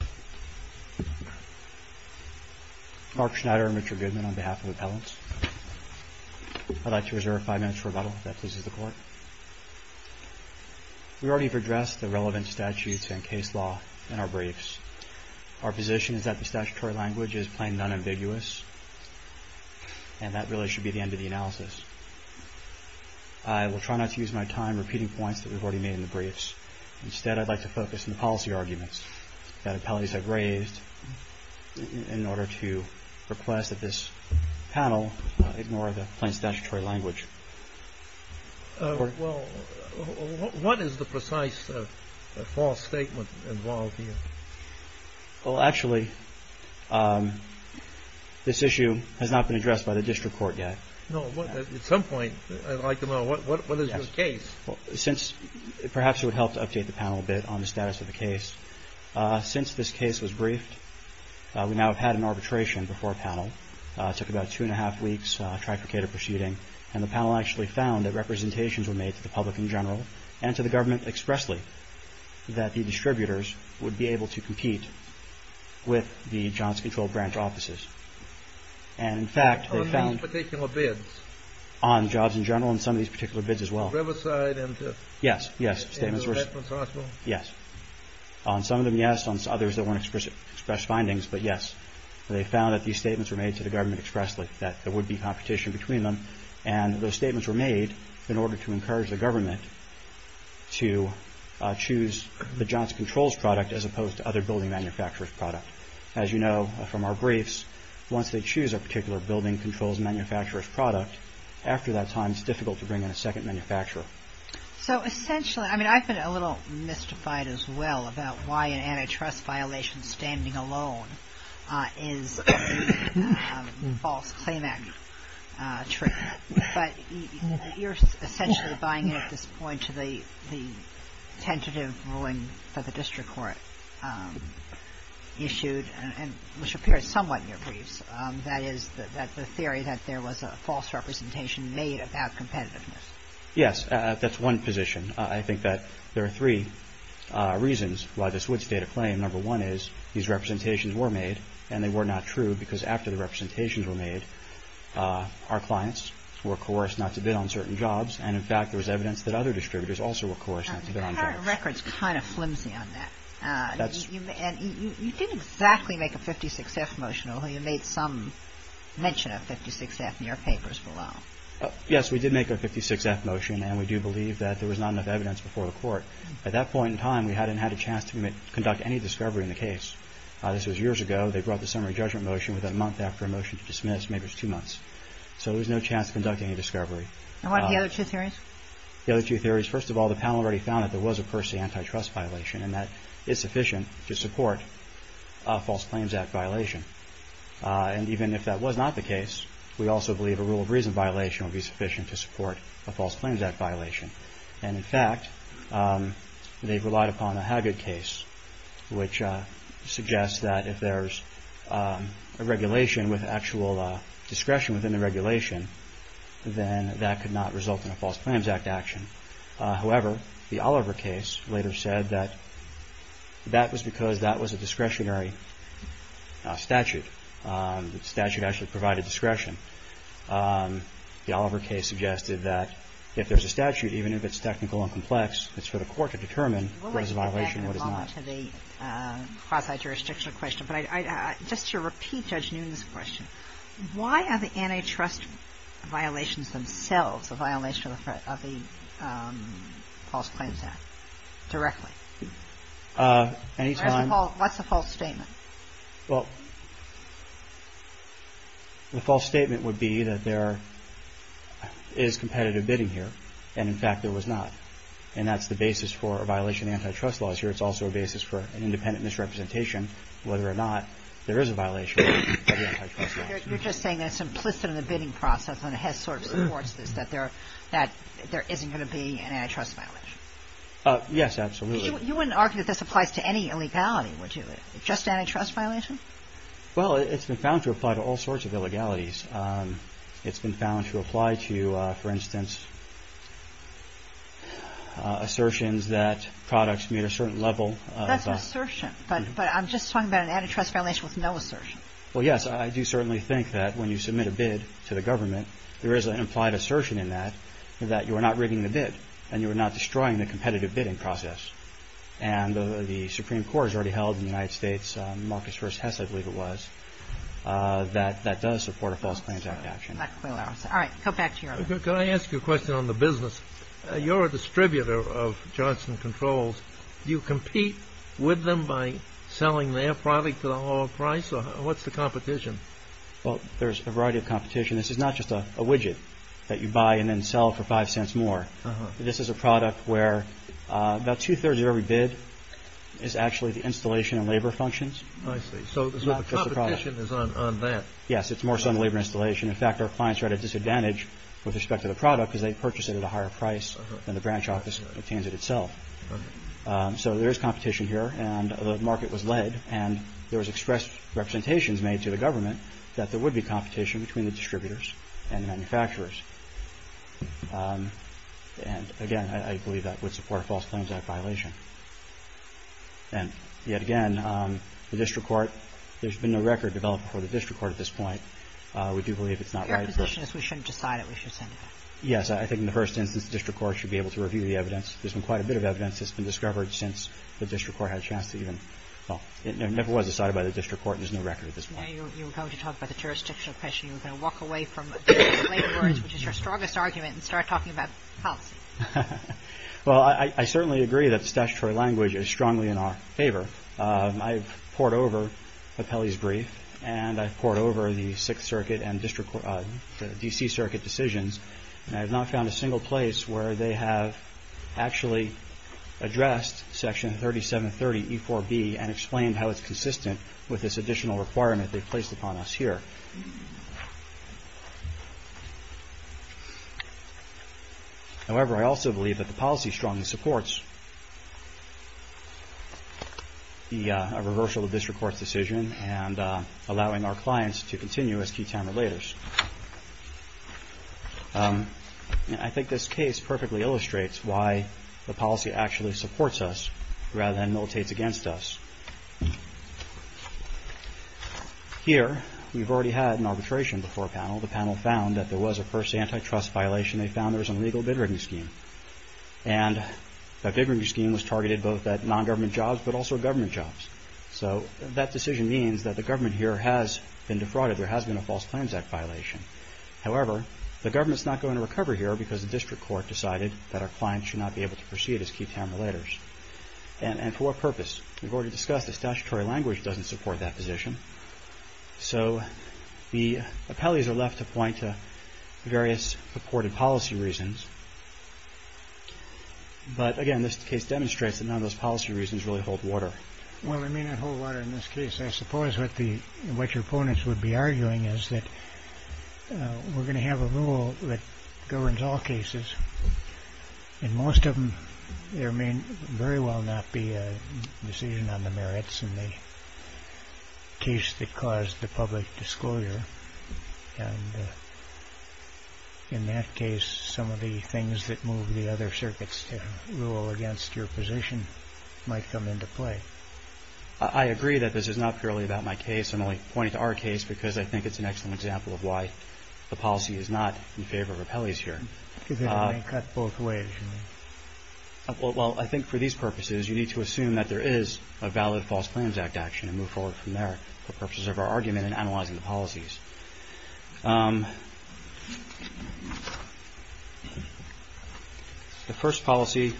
We already have addressed the relevant statutes and case law in our briefs. Our position is that the statutory language is plain and unambiguous, and that really should be the end of the analysis. I will try not to use my time repeating points that we have already made in the briefs. Instead, I would like to focus on the policy arguments that appellees have raised in order to request that this panel ignore the plain statutory language. Well, what is the precise false statement involved here? Well, actually, this issue has not been addressed by the district court yet. No, but at some point I would like to know what is your case. Since perhaps it would help to update the panel a bit on the status of the case. Since this case was briefed, we now have had an arbitration before a panel. Took about two and a half weeks to try to get a proceeding. And the panel actually found that representations were made to the public in general and to the government expressly, that the distributors would be able to compete with the Johnson Control branch offices. And in fact, they found on jobs in general and some of these particular bids as well. Riverside. And yes, yes. Statements were. Yes. On some of them, yes. On others that weren't expressed, expressed findings. But yes, they found that these statements were made to the government expressly, that there would be competition between them. And those statements were made in order to encourage the government to choose the Johnson Controls product as opposed to other building manufacturers product. As you know from our briefs, once they choose a particular building controls manufacturer's product, after that time, it's difficult to bring in a second manufacturer. So essentially, I mean, I've been a little mystified as well about why an antitrust violation standing alone is a false claim act treatment. But you're essentially buying at this point to the the tentative ruling for the district court issued and which appears somewhat in your briefs. That is that the theory that there was a false representation made about competitiveness. Yes. That's one position. I think that there are three reasons why this would state a claim. Number one is these representations were made and they were not true because after the representations were made, our clients were coerced not to bid on certain jobs. And in fact, there was evidence that other distributors also were coerced to bid on jobs. Your record's kind of flimsy on that. You didn't exactly make a 56-F motion, although you made some mention of 56-F in your papers below. Yes, we did make a 56-F motion and we do believe that there was not enough evidence before the court. At that point in time, we hadn't had a chance to conduct any discovery in the case. This was years ago. They brought the summary judgment motion within a month after a motion to dismiss, maybe it was two months. So there was no chance of conducting a discovery. And what are the other two theories? The other two theories, first of all, the panel already found that there was a Percy antitrust violation and that it's sufficient to support a False Claims Act violation. And even if that was not the case, we also believe a rule of reason violation would be sufficient to support a False Claims Act violation. And in fact, they've relied upon a Haggard case, which suggests that if there's a regulation with actual discretion within the regulation, then that could not result in a False Claims Act action. However, the Oliver case later said that that was because that was a discretionary statute. The statute actually provided discretion. The Oliver case suggested that if there's a statute, even if it's technical and complex, it's for the court to determine what is a violation and what is not. We'll get back in a moment to the quasi-jurisdictional question. But just to repeat Judge Noonan's question, why are the antitrust violations themselves a violation of the False Claims Act directly? Any time. What's the false statement? Well, the false statement would be that there is competitive bidding here. And in fact, there was not. And that's the basis for a violation of antitrust laws here. It's also a basis for an independent misrepresentation, whether or not there is a violation of the antitrust laws. You're just saying that's implicit in the bidding process and it has sort of supports this, that there isn't going to be an antitrust violation. Yes, absolutely. You wouldn't argue that this applies to any illegality, would you? Just antitrust violation? Well, it's been found to apply to all sorts of illegalities. It's been found to apply to, for instance, assertions that products meet a certain level. That's an assertion. But I'm just talking about an antitrust violation with no assertion. Well, yes, I do certainly think that when you submit a bid to the government, there is an implied assertion in that, that you are not rigging the bid and you are not destroying the competitive bidding process. And the Supreme Court has already held in the United States, Marcus v. Hess, I believe it was, that that does support a False Claims Act action. All right. Go back to you. Can I ask you a question on the business? You're a distributor of Johnson Controls. Do you compete with them by selling their product for the lower price? What's the competition? Well, there's a variety of competition. This is not just a widget that you buy and then sell for five cents more. This is a product where about two thirds of every bid is actually the installation and labor functions. I see. So the competition is on that. Yes, it's more so on labor installation. In fact, our clients are at a disadvantage with respect to the product because they purchase it at a higher price than the branch office obtains it itself. So there is competition here. And the market was led. And there was expressed representations made to the government that there would be competition between the distributors and manufacturers. And again, I believe that would support a False Claims Act violation. And yet again, the district court, there's been no record developed for the district court at this point. We do believe it's not right for us. Your position is we shouldn't decide it. We should send it back. Yes. I think in the first instance, the district court should be able to review the evidence. There's been quite a bit of evidence that's been discovered since the district court had a chance to even. Well, it never was decided by the district court. There's no record at this point. You were going to talk about the jurisdictional pressure. You were going to walk away from the labor laws, which is your strongest argument, and start talking about policy. Well, I certainly agree that the statutory language is strongly in our favor. I've poured over Petelli's brief and I've poured over the Sixth Circuit and district court, the D.C. actually addressed Section 3730E4B and explained how it's consistent with this additional requirement they've placed upon us here. However, I also believe that the policy strongly supports the reversal of this district court's decision and allowing our clients to continue as key town relators. I think this case perfectly illustrates why the policy actually supports us rather than militates against us. Here, we've already had an arbitration before a panel. The panel found that there was a first antitrust violation. They found there was a legal bid-rigging scheme. And that bid-rigging scheme was targeted both at non-government jobs but also government jobs. So that decision means that the government here has been defrauded. There has been a False Claims Act violation. However, the government's not going to recover here because the district court decided that our clients should not be able to proceed as key town relators. And for what purpose? We've already discussed the statutory language doesn't support that position. So the appellees are left to point to various purported policy reasons. But again, this case demonstrates that none of those policy reasons really hold water. Well, they may not hold water in this case. I suppose what your opponents would be arguing is that we're going to have a rule that governs all cases. And most of them, there may very well not be a decision on the merits in the case that caused the public disclosure. And in that case, some of the things that move the other circuits to rule against your position might come into play. I agree that this is not purely about my case. I'm only pointing to our case because I think it's an excellent example of why the policy is not in favor of appellees here. Is it cut both ways? Well, I think for these purposes, you need to assume that there is a valid False Claims Act action and move forward from there for purposes of our argument and analyzing the policies. The first policy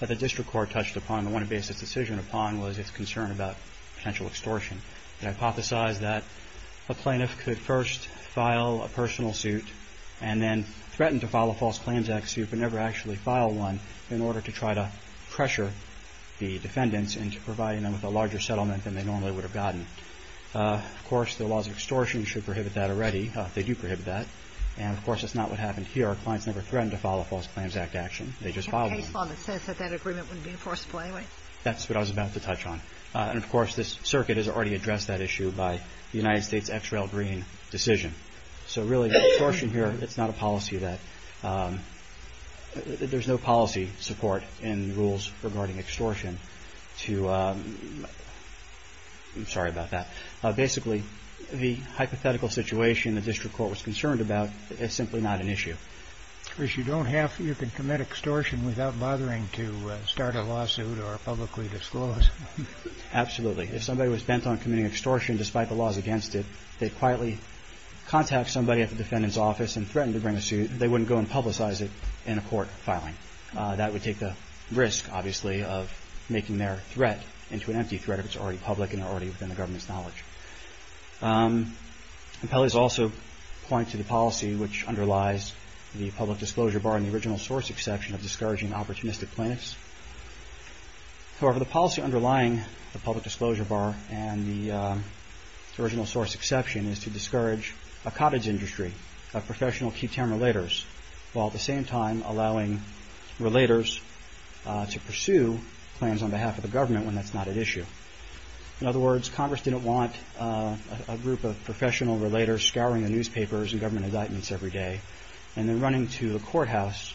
that the District Court touched upon, the one it based its decision upon, was its concern about potential extortion. It hypothesized that a plaintiff could first file a personal suit and then threaten to file a False Claims Act suit but never actually file one in order to try to pressure the defendants into providing them with a larger settlement than they normally would have gotten. Of course, the laws of extortion should prohibit that already. They do prohibit that. And, of course, that's not what happened here. Our clients never threatened to file a False Claims Act action. They just filed one. A case law that says that that agreement wouldn't be enforceable anyway? That's what I was about to touch on. And, of course, this circuit has already addressed that issue by the United States' X-Rail Green decision. So really, the extortion here, it's not a policy that – there's no policy support in rules regarding extortion to – I'm sorry about that. Basically, the hypothetical situation the district court was concerned about is simply not an issue. If you don't have – you can commit extortion without bothering to start a lawsuit or publicly disclose. Absolutely. If somebody was bent on committing extortion despite the laws against it, they'd quietly contact somebody at the defendant's office and threaten to bring a suit. They wouldn't go and publicize it in a court filing. That would take the risk, obviously, of making their threat into an empty threat if it's already public and already within the government's knowledge. Appellees also point to the policy which underlies the public disclosure bar and the original source exception of discouraging opportunistic plaintiffs. However, the policy underlying the public disclosure bar and the original source exception is to discourage a cottage industry, a professional key-term relators, while at the same time allowing relators to pursue plans on behalf of the government when that's not at issue. In other words, Congress didn't want a group of professional relators scouring the newspapers and government indictments every day and then running to the courthouse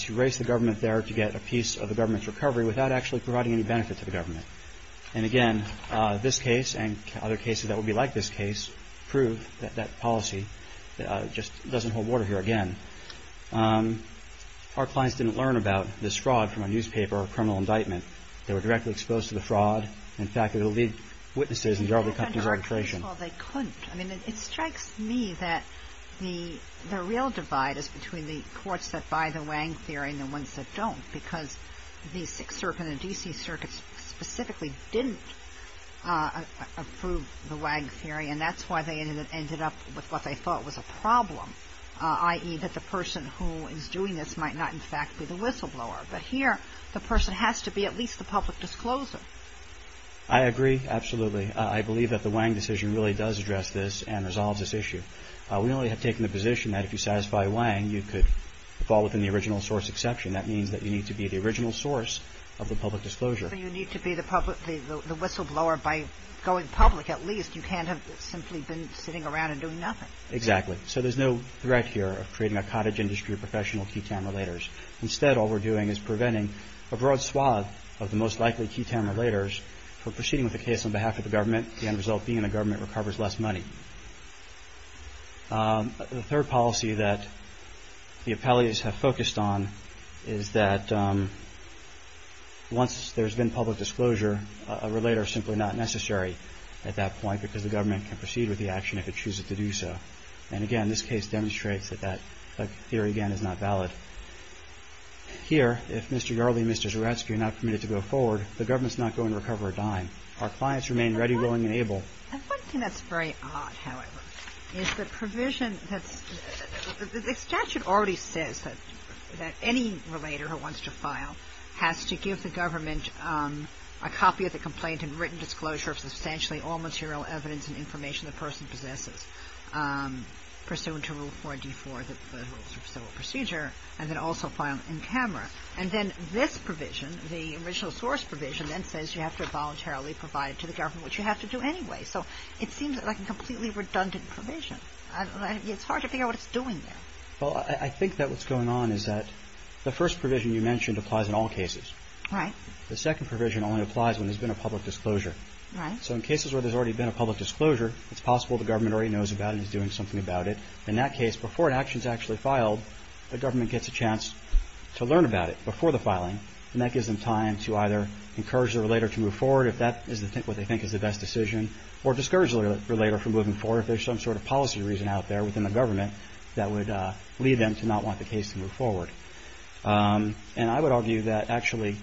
to race the government there to get a piece of the government's recovery without actually providing any benefit to the government. And again, this case and other cases that would be like this case prove that that policy just doesn't hold water here again. Our clients didn't learn about this fraud from a newspaper or a criminal indictment. They were directly exposed to the fraud. In fact, it would lead witnesses and derail the company's registration. Well, they couldn't. I mean, it strikes me that the real divide is between the courts that buy the Wang theory and the ones that don't because the Sixth Circuit and the D.C. Circuit specifically didn't approve the Wang theory and that's why they ended up with what they thought was a problem, i.e. that the person who is doing this might not, in fact, be the whistleblower. But here, the person has to be at least the public discloser. I agree, absolutely. I believe that the Wang decision really does address this and resolves this issue. We only have taken the position that if you satisfy Wang, you could fall within the original source exception. And that means that you need to be the original source of the public disclosure. So you need to be the whistleblower by going public at least. You can't have simply been sitting around and doing nothing. Exactly. So there's no threat here of creating a cottage industry of professional key town relators. Instead, all we're doing is preventing a broad swath of the most likely key town relators from proceeding with a case on behalf of the government, the end result being the government recovers less money. The third policy that the appellees have focused on is that once there's been public disclosure, a relator is simply not necessary at that point because the government can proceed with the action if it chooses to do so. And again, this case demonstrates that that theory, again, is not valid. Here, if Mr. Yarley and Mr. Zeretsky are not committed to go forward, the government is not going to recover a dime. Our clients remain ready, willing, and able. And one thing that's very odd, however, is the provision that the statute already says that any relator who wants to file has to give the government a copy of the complaint and written disclosure of substantially all material evidence and information the person possesses, pursuant to Rule 4 and D4, the rules of civil procedure, and then also file in camera. And then this provision, the original source provision, then says you have to voluntarily provide it to the government, which you have to do anyway. So it seems like a completely redundant provision. It's hard to figure out what it's doing there. Well, I think that what's going on is that the first provision you mentioned applies in all cases. Right. The second provision only applies when there's been a public disclosure. So in cases where there's already been a public disclosure, it's possible the government already knows about it and is doing something about it. In that case, before an action is actually filed, the government gets a chance to learn about it before the filing. And that gives them time to either encourage the relator to move forward if that is what they think is the best decision or discourage the relator from moving forward if there's some sort of policy reason out there within the government that would lead them to not want the case to move forward. And I would argue that actually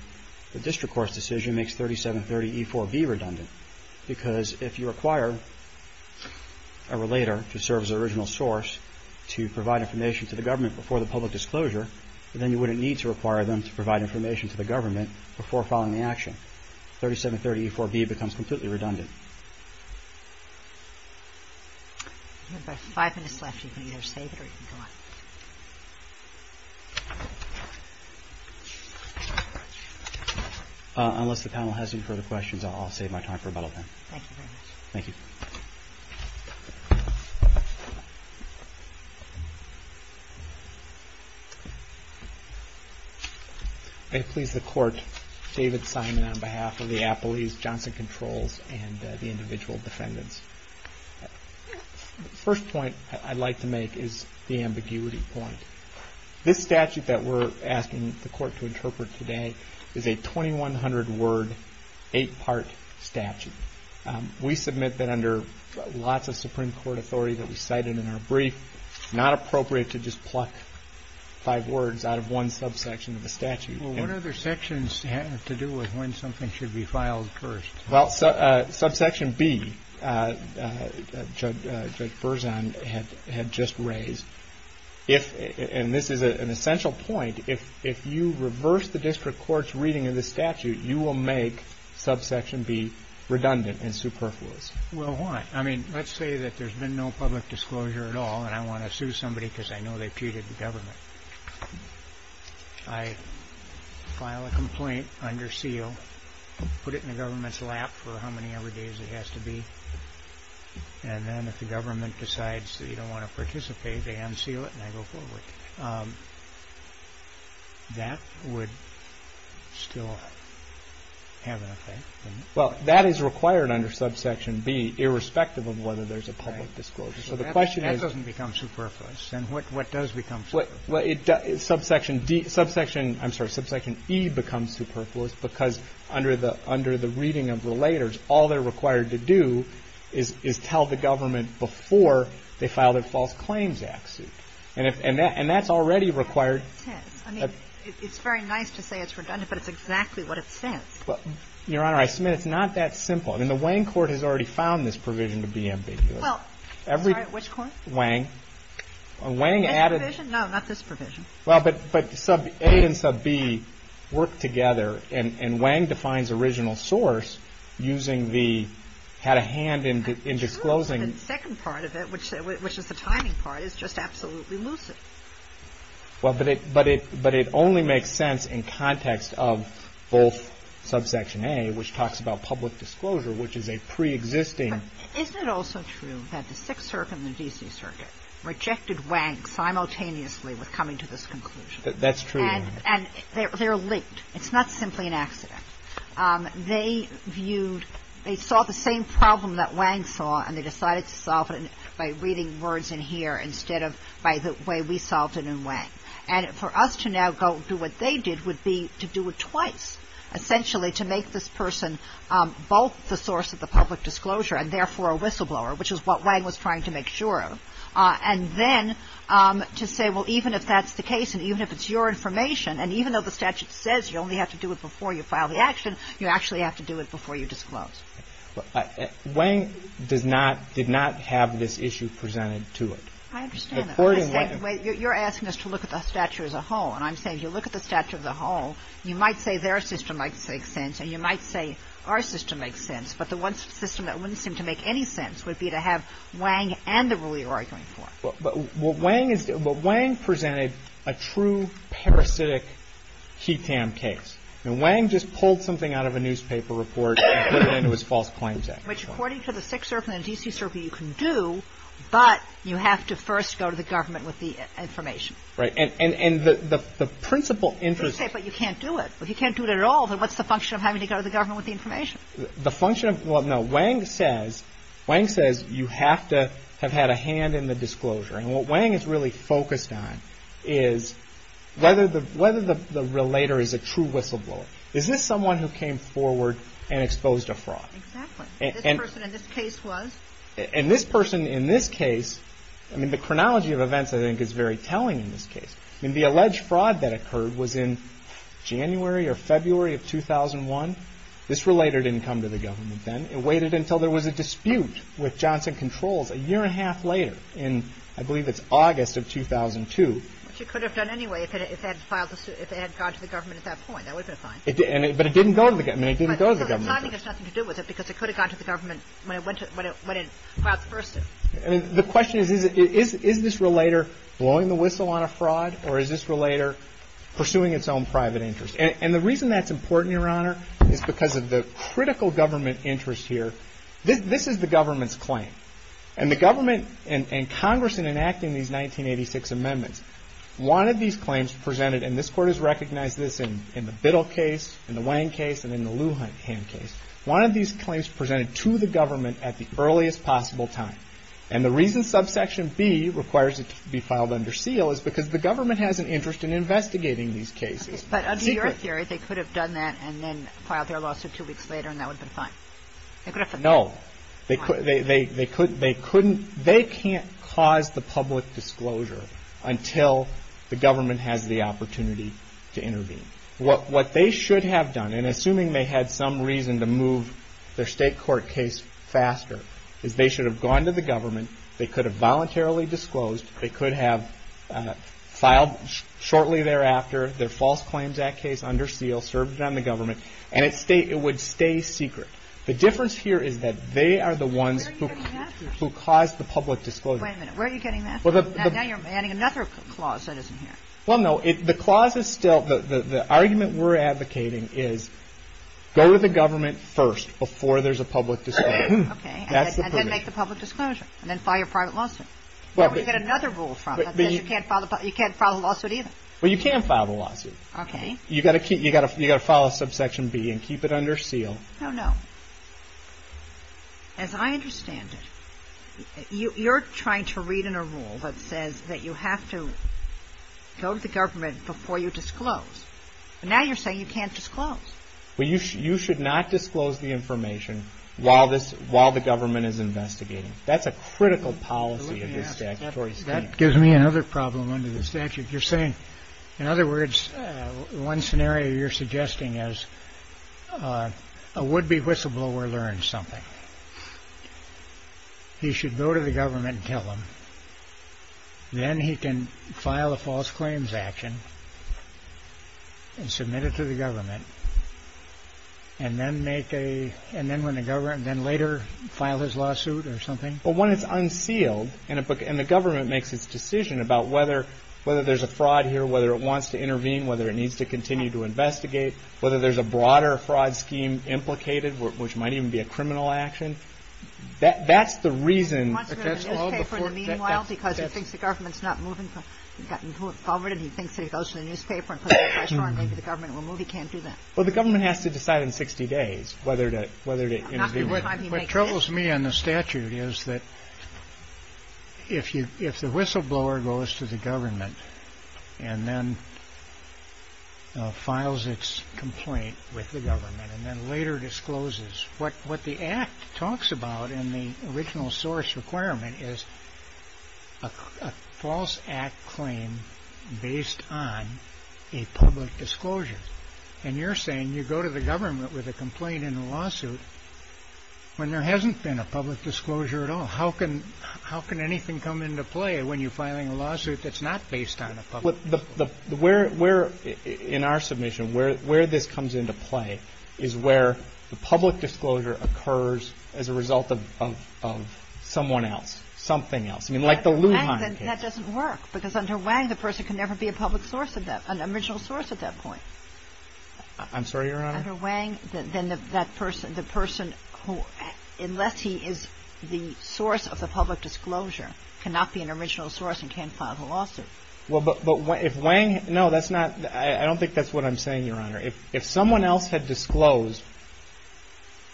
the district court's decision makes 3730E4B redundant because if you require a relator to serve as the original source to provide information to the government before the public disclosure, then you wouldn't need to require them to provide information to the government before filing the action. 3730E4B becomes completely redundant. We have about five minutes left. You can either save it or you can go on. Unless the panel has any further questions, I'll save my time for about a minute. Thank you very much. Thank you. Thank you. May it please the court, David Simon on behalf of the appellees, Johnson Controls, and the individual defendants. The first point I'd like to make is the ambiguity point. This statute that we're asking the court to interpret today is a 2100 word, eight-part statute. We submit that under lots of Supreme Court authority that we cited in our brief, it's not appropriate to just pluck five words out of one subsection of the statute. Well, what other sections have to do with when something should be filed first? Well, subsection B, Judge Berzon had just raised, and this is an essential point, if you reverse the district court's reading of the statute, you will make subsection B redundant and superfluous. Well, why? I mean, let's say that there's been no public disclosure at all, and I want to sue somebody because I know they've cheated the government. I file a complaint under seal, put it in the government's lap for how many ever days it has to be, and then if the government decides that you don't want to participate, they unseal it and I go forward. That would still have an effect? Well, that is required under subsection B, irrespective of whether there's a public disclosure. So the question is... That doesn't become superfluous. Then what does become superfluous? Subsection D, I'm sorry, subsection E becomes superfluous because under the reading of relators, all they're required to do is tell the government before they file their False Claims Act suit. And that's already required... I mean, it's very nice to say it's redundant, but it's exactly what it says. Your Honor, I submit it's not that simple. I mean, the Wang Court has already found this provision to be ambiguous. Well, sorry, which court? Wang. Wang added... This provision? No, not this provision. Well, but sub A and sub B work together, and Wang defines original source using the... had a hand in disclosing... The second part of it, which is the timing part, is just absolutely lucid. Well, but it only makes sense in context of both subsection A, which talks about public disclosure, which is a pre-existing... Isn't it also true that the Sixth Circuit and the D.C. Circuit rejected Wang simultaneously with coming to this conclusion? That's true, Your Honor. And they're linked. It's not simply an accident. They viewed... They saw the same problem that Wang saw, and they decided to solve it by reading words in here instead of by the way we solved it in Wang. And for us to now go do what they did would be to do it twice, essentially to make this person both the source of the public disclosure and therefore a whistleblower, which is what Wang was trying to make sure of, and then to say, well, even if that's the case, and even if it's your information, and even though the statute says you only have to do it before you file the action, you actually have to do it before you disclose. Wang did not have this issue presented to it. I understand that. You're asking us to look at the statute as a whole, and I'm saying if you look at the statute as a whole, you might say their system makes sense, and you might say our system makes sense, but the one system that wouldn't seem to make any sense would be to have Wang and the rule you're arguing for. But Wang presented a true parasitic heat tam case. Wang just pulled something out of a newspaper report and put it into his false claims act. Which, according to the Sixth Circuit and the D.C. Circuit, you can do, but you have to first go to the government with the information. Right. And the principal interest... But you can't do it. If you can't do it at all, then what's the function of having to go to the government with the information? The function of... Well, no. Wang says you have to have had a hand in the disclosure, and what Wang is really focused on is whether the relator is a true whistleblower. Is this someone who came forward and exposed a fraud? Exactly. This person in this case was. And this person in this case... I mean, the chronology of events, I think, is very telling in this case. I mean, the alleged fraud that occurred was in January or February of 2001. This relator didn't come to the government then. It waited until there was a dispute with Johnson Controls a year and a half later in, I believe it's August of 2002. Which it could have done anyway if it had gone to the government at that point. That would have been fine. But it didn't go to the government. I mean, it didn't go to the government. I think it has nothing to do with it because it could have gone to the government when it filed the first suit. I mean, the question is, is this relator blowing the whistle on a fraud or is this relator pursuing its own private interest? And the reason that's important, Your Honor, is because of the critical government interest here. This is the government's claim. And the government and Congress in enacting these 1986 amendments wanted these claims presented, and this Court has recognized this in the Biddle case, in the Wang case, and in the Lujan case, wanted these claims presented to the government at the earliest possible time. And the reason subsection B requires it to be filed under seal is because the government has an interest in investigating these cases. But under your theory, they could have done that and then filed their lawsuit two weeks later and that would have been fine. No. They couldn't, they can't cause the public disclosure until the government has the opportunity to intervene. What they should have done, and assuming they had some reason to move their state court case faster, is they should have gone to the government, they could have voluntarily disclosed, they could have filed shortly thereafter their False Claims Act case under seal, served it on the government, and it would stay secret. The difference here is that they are the ones who caused the public disclosure. Wait a minute, where are you getting that from? Now you're adding another clause that isn't here. Well, no, the clause is still, the argument we're advocating is go to the government first before there's a public disclosure. Okay, and then make the public disclosure. And then file your private lawsuit. Where would you get another rule from? You can't file a lawsuit either. Well, you can file a lawsuit. Okay. You've got to file a subsection B and keep it under seal. No, no. As I understand it, you're trying to read in a rule that says that you have to go to the government before you disclose. Now you're saying you can't disclose. Well, you should not disclose the information while the government is investigating. That's a critical policy of this statutory statute. That gives me another problem under the statute. You're saying, in other words, one scenario you're suggesting is a would-be whistleblower learns something. He should go to the government and tell them. Then he can file a false claims action and submit it to the government. And then later file his lawsuit or something? Well, when it's unsealed, and the government makes its decision about whether there's a fraud here, whether it wants to intervene, whether it needs to continue to investigate, whether there's a broader fraud scheme implicated, which might even be a criminal action. That's the reason. He wants to go to the newspaper in the meanwhile because he thinks the government's not moving. He thinks that if he goes to the newspaper and puts a pressure on him, maybe the government will move. He can't do that. Well, the government has to decide in 60 days whether to intervene. What troubles me on the statute is that if the whistleblower goes to the government and then files its complaint with the government and then later discloses, what the Act talks about in the original source requirement is a false Act claim based on a public disclosure. And you're saying you go to the government with a complaint in a lawsuit when there hasn't been a public disclosure at all. How can anything come into play when you're filing a lawsuit that's not based on a public disclosure? Where, in our submission, where this comes into play is where the public disclosure occurs as a result of someone else, something else. I mean, like the Lujan case. That doesn't work because under Wang, the person can never be a public source of that, I'm sorry, Your Honor? Under Wang, then that person, the person who, unless he is the source of the public disclosure, cannot be an original source and can't file the lawsuit. Well, but if Wang, no, that's not, I don't think that's what I'm saying, Your Honor. If someone else had disclosed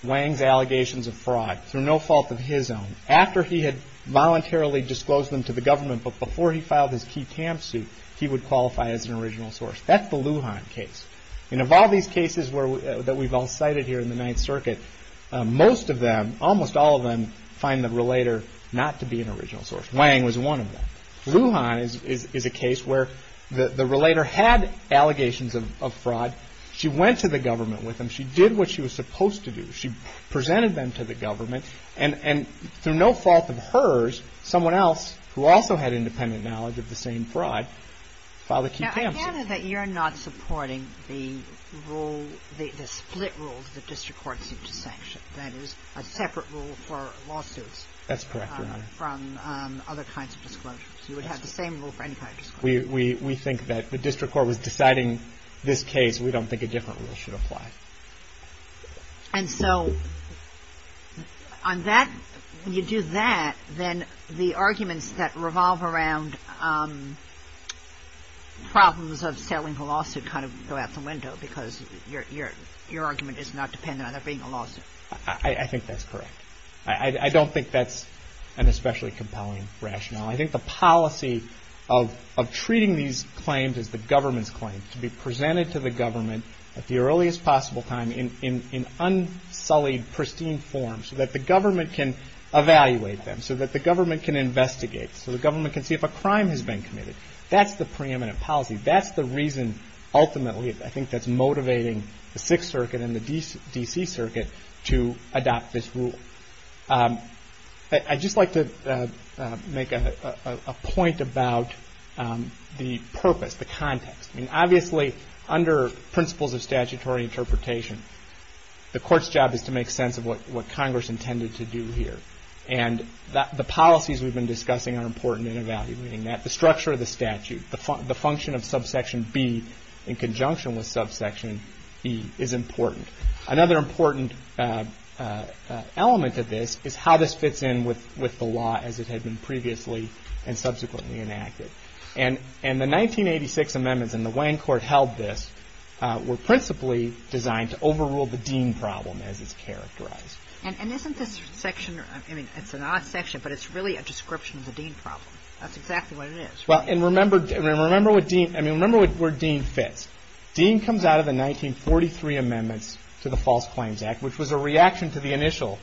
Wang's allegations of fraud through no fault of his own after he had voluntarily disclosed them to the government but before he filed his key TAM suit, he would qualify as an original source. That's the Lujan case. And of all these cases that we've all cited here in the Ninth Circuit, most of them, almost all of them, find the relator not to be an original source. Wang was one of them. Lujan is a case where the relator had allegations of fraud. She went to the government with him. She did what she was supposed to do. She presented them to the government, and through no fault of hers, someone else, who also had independent knowledge of the same fraud, filed the key TAM suit. Now, I gather that you're not supporting the rule, the split rule that district courts need to sanction. That is, a separate rule for lawsuits. That's correct, Your Honor. From other kinds of disclosures. You would have the same rule for any kind of disclosure. We think that the district court was deciding this case. We don't think a different rule should apply. And so, on that, when you do that, then the arguments that revolve around problems of selling the lawsuit kind of go out the window, because your argument is not dependent on there being a lawsuit. I think that's correct. I don't think that's an especially compelling rationale. I think the policy of treating these claims as the government's claims, to be presented to the government at the earliest possible time in unsullied, pristine form, so that the government can evaluate them, so that the government can investigate, so the government can see if a crime has been committed. That's the preeminent policy. That's the reason, ultimately, I think that's motivating the Sixth Circuit and the D.C. Circuit to adopt this rule. I'd just like to make a point about the purpose, the context. I mean, obviously, under principles of statutory interpretation, the court's job is to make sense of what Congress intended to do here. And the policies we've been discussing are important in evaluating that. The structure of the statute, the function of subsection B in conjunction with subsection E is important. Another important element of this is how this fits in with the law as it had been previously and subsequently enacted. And the 1986 amendments, and the Wayne court held this, And isn't this section, I mean, it's an odd section, but it's really a description of the Dean problem. That's exactly what it is. Remember where Dean fits. Dean comes out of the 1943 amendments to the False Claims Act, which was a reaction to the initial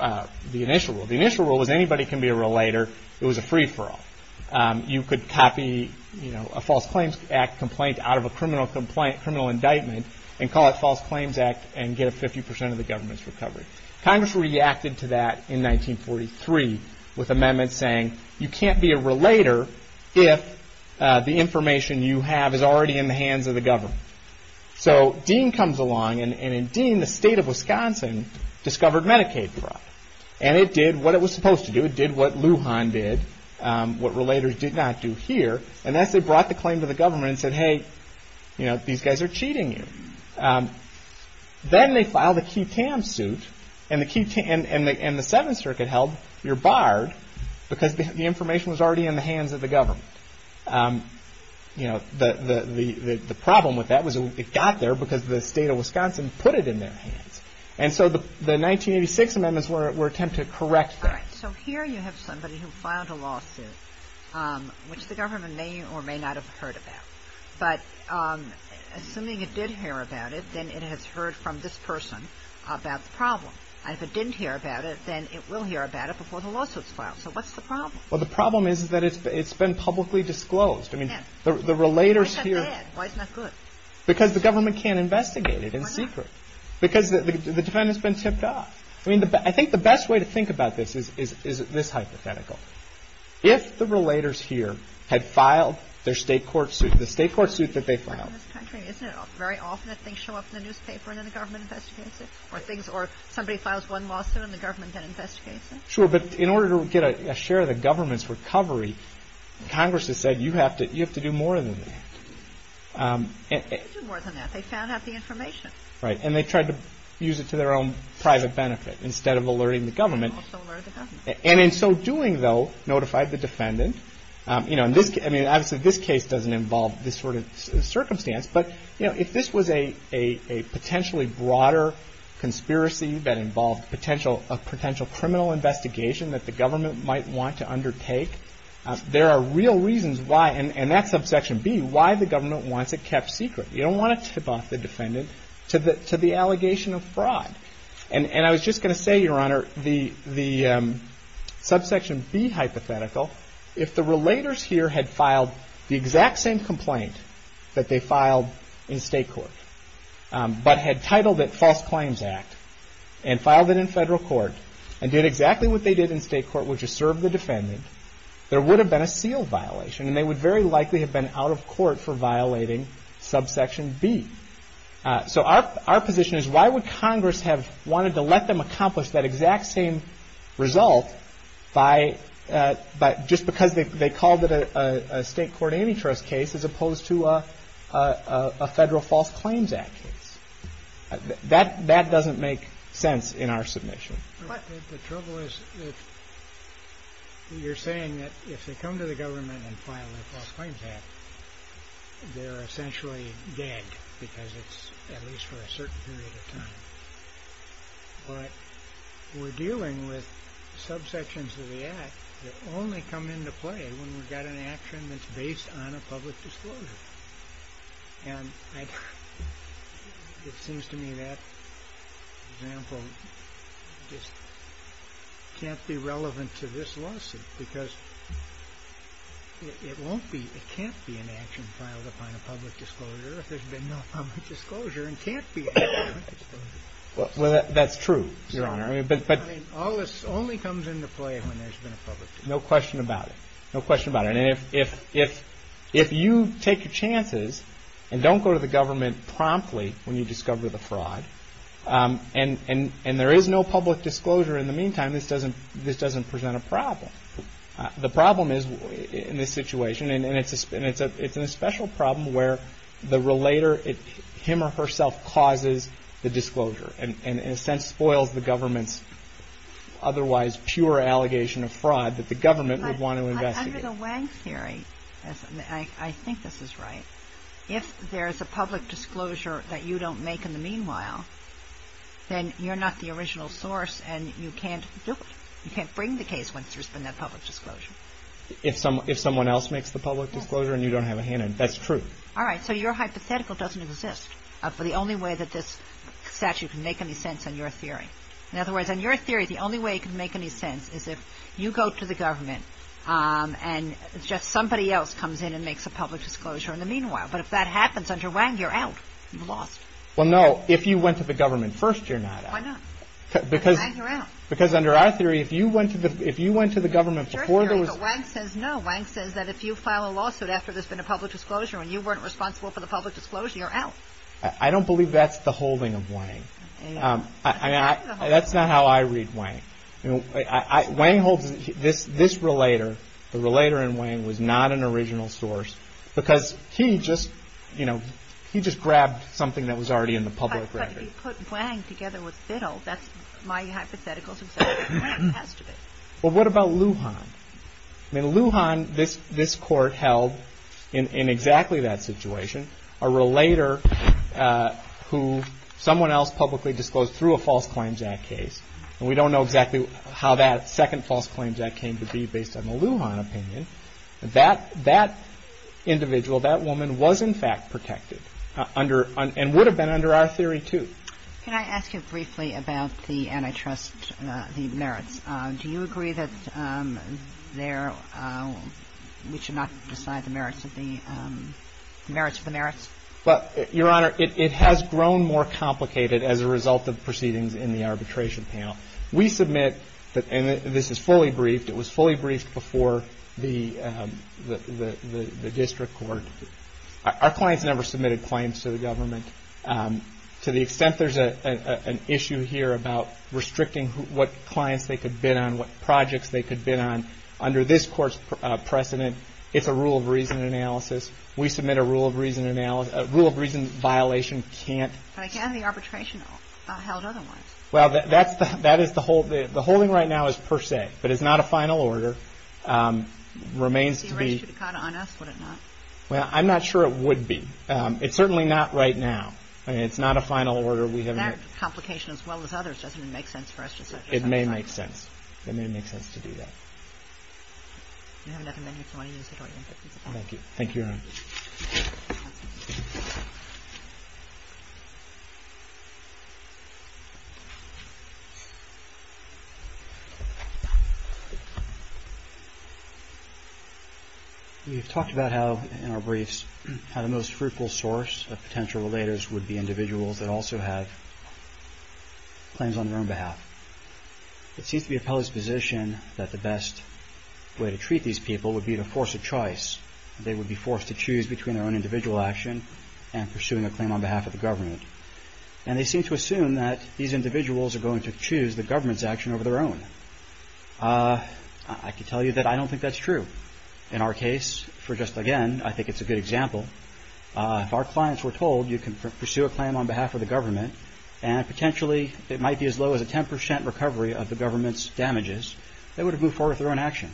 rule. The initial rule was anybody can be a relator. It was a free-for-all. You could copy a False Claims Act complaint out of a criminal indictment and call it False Claims Act and get a 50% of the government's recovery. Congress reacted to that in 1943 with amendments saying, you can't be a relator if the information you have is already in the hands of the government. So Dean comes along, and in Dean, the state of Wisconsin discovered Medicaid fraud. And it did what it was supposed to do. It did what Lujan did, what relators did not do here, and that's they brought the claim to the government and said, hey, these guys are cheating you. Then they filed a QTAM suit, and the Seventh Circuit held you're barred because the information was already in the hands of the government. The problem with that was it got there because the state of Wisconsin put it in their hands. And so the 1986 amendments were an attempt to correct that. So here you have somebody who filed a lawsuit, which the government may or may not have heard about. But assuming it did hear about it, then it has heard from this person about the problem. And if it didn't hear about it, then it will hear about it before the lawsuit's filed. So what's the problem? Well, the problem is that it's been publicly disclosed. I mean, the relators here. Why is that bad? Why is that good? Because the government can't investigate it in secret. Why not? Because the defendant's been tipped off. I mean, I think the best way to think about this is this hypothetical. If the relators here had filed their state court suit, the state court suit that they filed. Isn't it very often that things show up in the newspaper and then the government investigates it? Or somebody files one lawsuit and the government then investigates it? Sure. But in order to get a share of the government's recovery, Congress has said you have to do more than that. They did do more than that. They found out the information. Right. And they tried to use it to their own private benefit instead of alerting the government. And also alert the government. And in so doing, though, notified the defendant. I mean, obviously, this case doesn't involve this sort of circumstance. But, you know, if this was a potentially broader conspiracy that involved a potential criminal investigation that the government might want to undertake, there are real reasons why, and that's subsection B, why the government wants it kept secret. And I was just going to say, Your Honor, the subsection B hypothetical, if the relators here had filed the exact same complaint that they filed in state court, but had titled it False Claims Act and filed it in federal court and did exactly what they did in state court, which is serve the defendant, there would have been a sealed violation. And they would very likely have been out of court for violating subsection B. So our position is, why would Congress have wanted to let them accomplish that exact same result just because they called it a state court antitrust case as opposed to a federal False Claims Act case? That doesn't make sense in our submission. But the trouble is that you're saying that if they come to the government and file a False Claims Act, they're essentially dead, because it's at least for a certain period of time. But we're dealing with subsections of the Act that only come into play when we've got an action that's based on a public disclosure. And it seems to me that example just can't be relevant to this lawsuit because it can't be an action filed upon a public disclosure if there's been no public disclosure and can't be an action filed upon a public disclosure. Well, that's true, Your Honor. I mean, all this only comes into play when there's been a public disclosure. No question about it. No question about it. And if you take your chances and don't go to the government promptly when you discover the fraud, and there is no public disclosure in the meantime, then this doesn't present a problem. The problem is in this situation, and it's a special problem where the relator, him or herself, causes the disclosure and in a sense spoils the government's otherwise pure allegation of fraud that the government would want to investigate. Under the Wang theory, I think this is right, if there's a public disclosure that you don't make in the meanwhile, then you're not the original source and you can't do it. You can't bring the case once there's been that public disclosure. If someone else makes the public disclosure and you don't have a hand in it. That's true. All right. So your hypothetical doesn't exist for the only way that this statute can make any sense in your theory. In other words, in your theory, the only way it can make any sense is if you go to the government and just somebody else comes in and makes a public disclosure in the meanwhile. But if that happens under Wang, you're out. You're lost. Well, no. If you went to the government first, you're not out. Why not? Because under our theory, if you went to the government before there was... Your theory, but Wang says no. Wang says that if you file a lawsuit after there's been a public disclosure and you weren't responsible for the public disclosure, you're out. I don't believe that's the holding of Wang. That's not how I read Wang. Wang holds this relator. The relator in Wang was not an original source because he just grabbed something that was already in the public record. If you put Wang together with Biddle, that's my hypothetical. It has to be. Well, what about Lujan? I mean, Lujan, this court held in exactly that situation, a relator who someone else publicly disclosed through a false claims act case, and we don't know exactly how that second false claims act came to be based on the Lujan opinion. That individual, that woman, was in fact protected and would have been under our theory, too. Can I ask you briefly about the antitrust, the merits? Do you agree that we should not decide the merits of the merits? Your Honor, it has grown more complicated as a result of proceedings in the arbitration panel. We submit, and this is fully briefed, it was fully briefed before the district court. Our clients never submitted claims to the government. To the extent there's an issue here about restricting what clients they could bid on, what projects they could bid on, under this court's precedent, it's a rule of reason analysis. We submit a rule of reason violation. But again, the arbitration held other ones. Well, the holding right now is per se, but it's not a final order. Remains to be. Well, I'm not sure it would be. It's certainly not right now. I mean, it's not a final order. That complication, as well as others, doesn't even make sense for us to submit. It may make sense. Thank you, Your Honor. We've talked about how, in our briefs, how the most fruitful source of potential relators would be individuals that also have claims on their own behalf. It seems to be appellee's position that the best way to treat these people would be to force a choice. They would be forced to choose between their own individual action and pursuing a claim on behalf of the government. And they seem to assume that these individuals are going to choose the government's action over their own. I can tell you that I don't think that's true. In our case, for just, again, I think it's a good example, if our clients were told you can pursue a claim on behalf of the government and potentially it might be as low as a 10% recovery of the government's damages, they would have moved forward with their own action.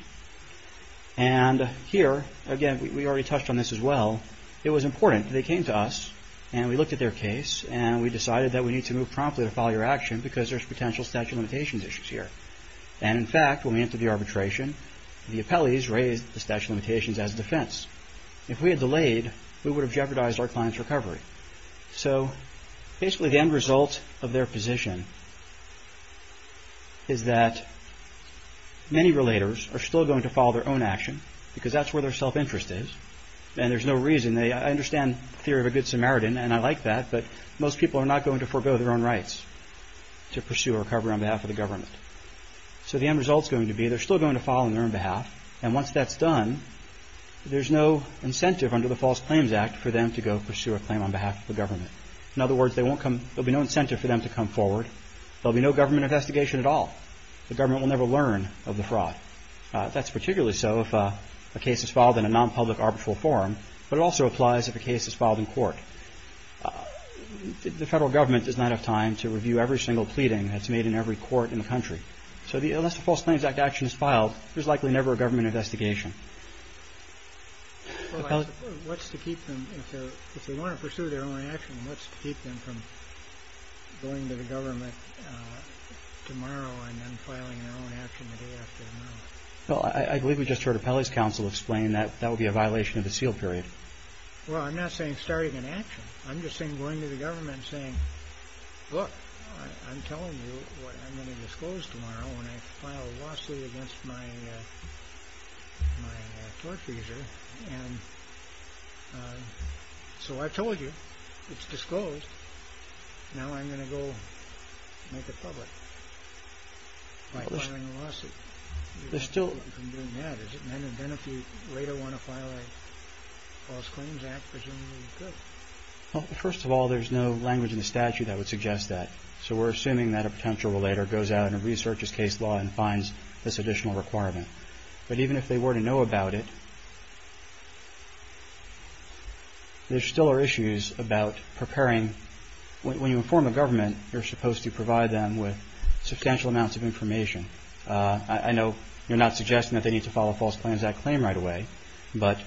And here, again, we already touched on this as well, it was important. They came to us and we looked at their case and we decided that we need to move promptly to file your action because there's potential statute of limitations issues here. And, in fact, when we entered the arbitration, the appellees raised the statute of limitations as a defense. If we had delayed, we would have jeopardized our client's recovery. So, basically, the end result of their position is that many relators are still going to follow their own action because that's where their self-interest is. And there's no reason, I understand the theory of a good Samaritan, and I like that, but most people are not going to forego their own rights to pursue a recovery on behalf of the government. So the end result's going to be they're still going to file on their own behalf and once that's done, there's no incentive under the False Claims Act for them to go pursue a claim on behalf of the government. In other words, there'll be no incentive for them to come forward. There'll be no government investigation at all. The government will never learn of the fraud. That's particularly so if a case is filed in a non-public arbitral forum, but it also applies if a case is filed in court. The federal government does not have time to review every single pleading that's made in every court in the country. So unless the False Claims Act action is filed, there's likely never a government investigation. Well, what's to keep them, if they want to pursue their own action, what's to keep them from going to the government tomorrow and then filing their own action the day after? Well, I believe we just heard Apelli's counsel explain that that would be a violation of the seal period. Well, I'm not saying starting an action. I'm just saying going to the government and saying, look, I'm telling you what I'm going to disclose tomorrow when I file a lawsuit against my tort user. So I told you, it's disclosed. Now I'm going to go make it public by filing a lawsuit. There's still... Well, first of all, there's no language in the statute that would suggest that. So we're assuming that a potential relator goes out and researches case law and finds this additional requirement. But even if they were to know about it, there still are issues about preparing. When you inform a government, you're supposed to provide them with substantial amounts of information. I know you're not suggesting that they need to file a False Claims Act claim right away, but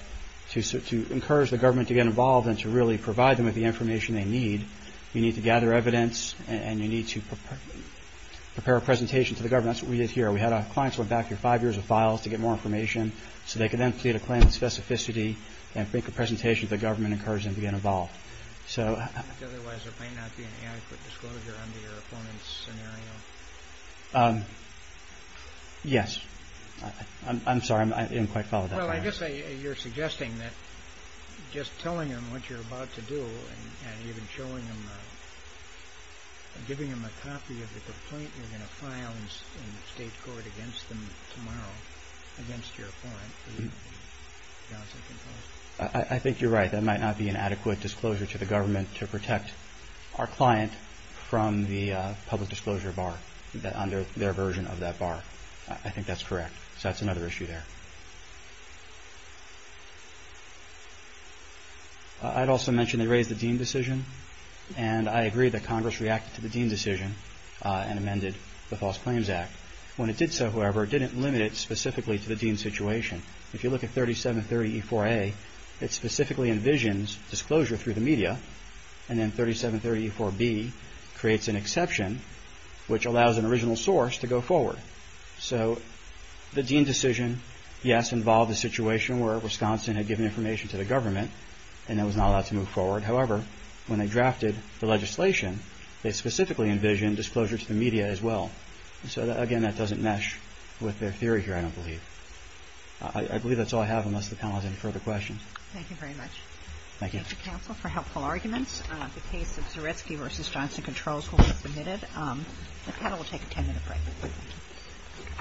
to encourage the government to get involved and to really provide them with the information they need, you need to gather evidence and you need to prepare a presentation to the government. That's what we did here. We had our clients go back here five years of files to get more information so they could then plead a claim with specificity and make a presentation to the government, encourage them to get involved. Otherwise, there may not be an adequate disclosure under your opponent's scenario. Yes. I'm sorry, I didn't quite follow that. Well, I guess you're suggesting that just telling them what you're about to do and even showing them, giving them a copy of the complaint you're going to file in the state court against them tomorrow, against your opponent, is not sufficient. I think you're right. That might not be an adequate disclosure to the government to protect our client from the public disclosure bar on their version of that bar. I think that's correct. So that's another issue there. I'd also mention they raised the Dean decision and I agree that Congress reacted to the Dean decision and amended the False Claims Act. When it did so, however, it didn't limit it specifically to the Dean situation. If you look at 3730E4A, it specifically envisions disclosure through the media and then 3730E4B creates an exception which allows an original source to go forward. So the Dean decision, yes, involved a situation where Wisconsin had given information to the government and it was not allowed to move forward. However, when they drafted the legislation, they specifically envisioned disclosure to the media as well. So, again, that doesn't mesh with their theory here, I don't believe. I believe that's all I have unless the panel has any further questions. Thank you very much. Thank you. Thank you, counsel, for helpful arguments. The case of Zaretsky v. Johnson Controls will be submitted. The panel will take a 10-minute break.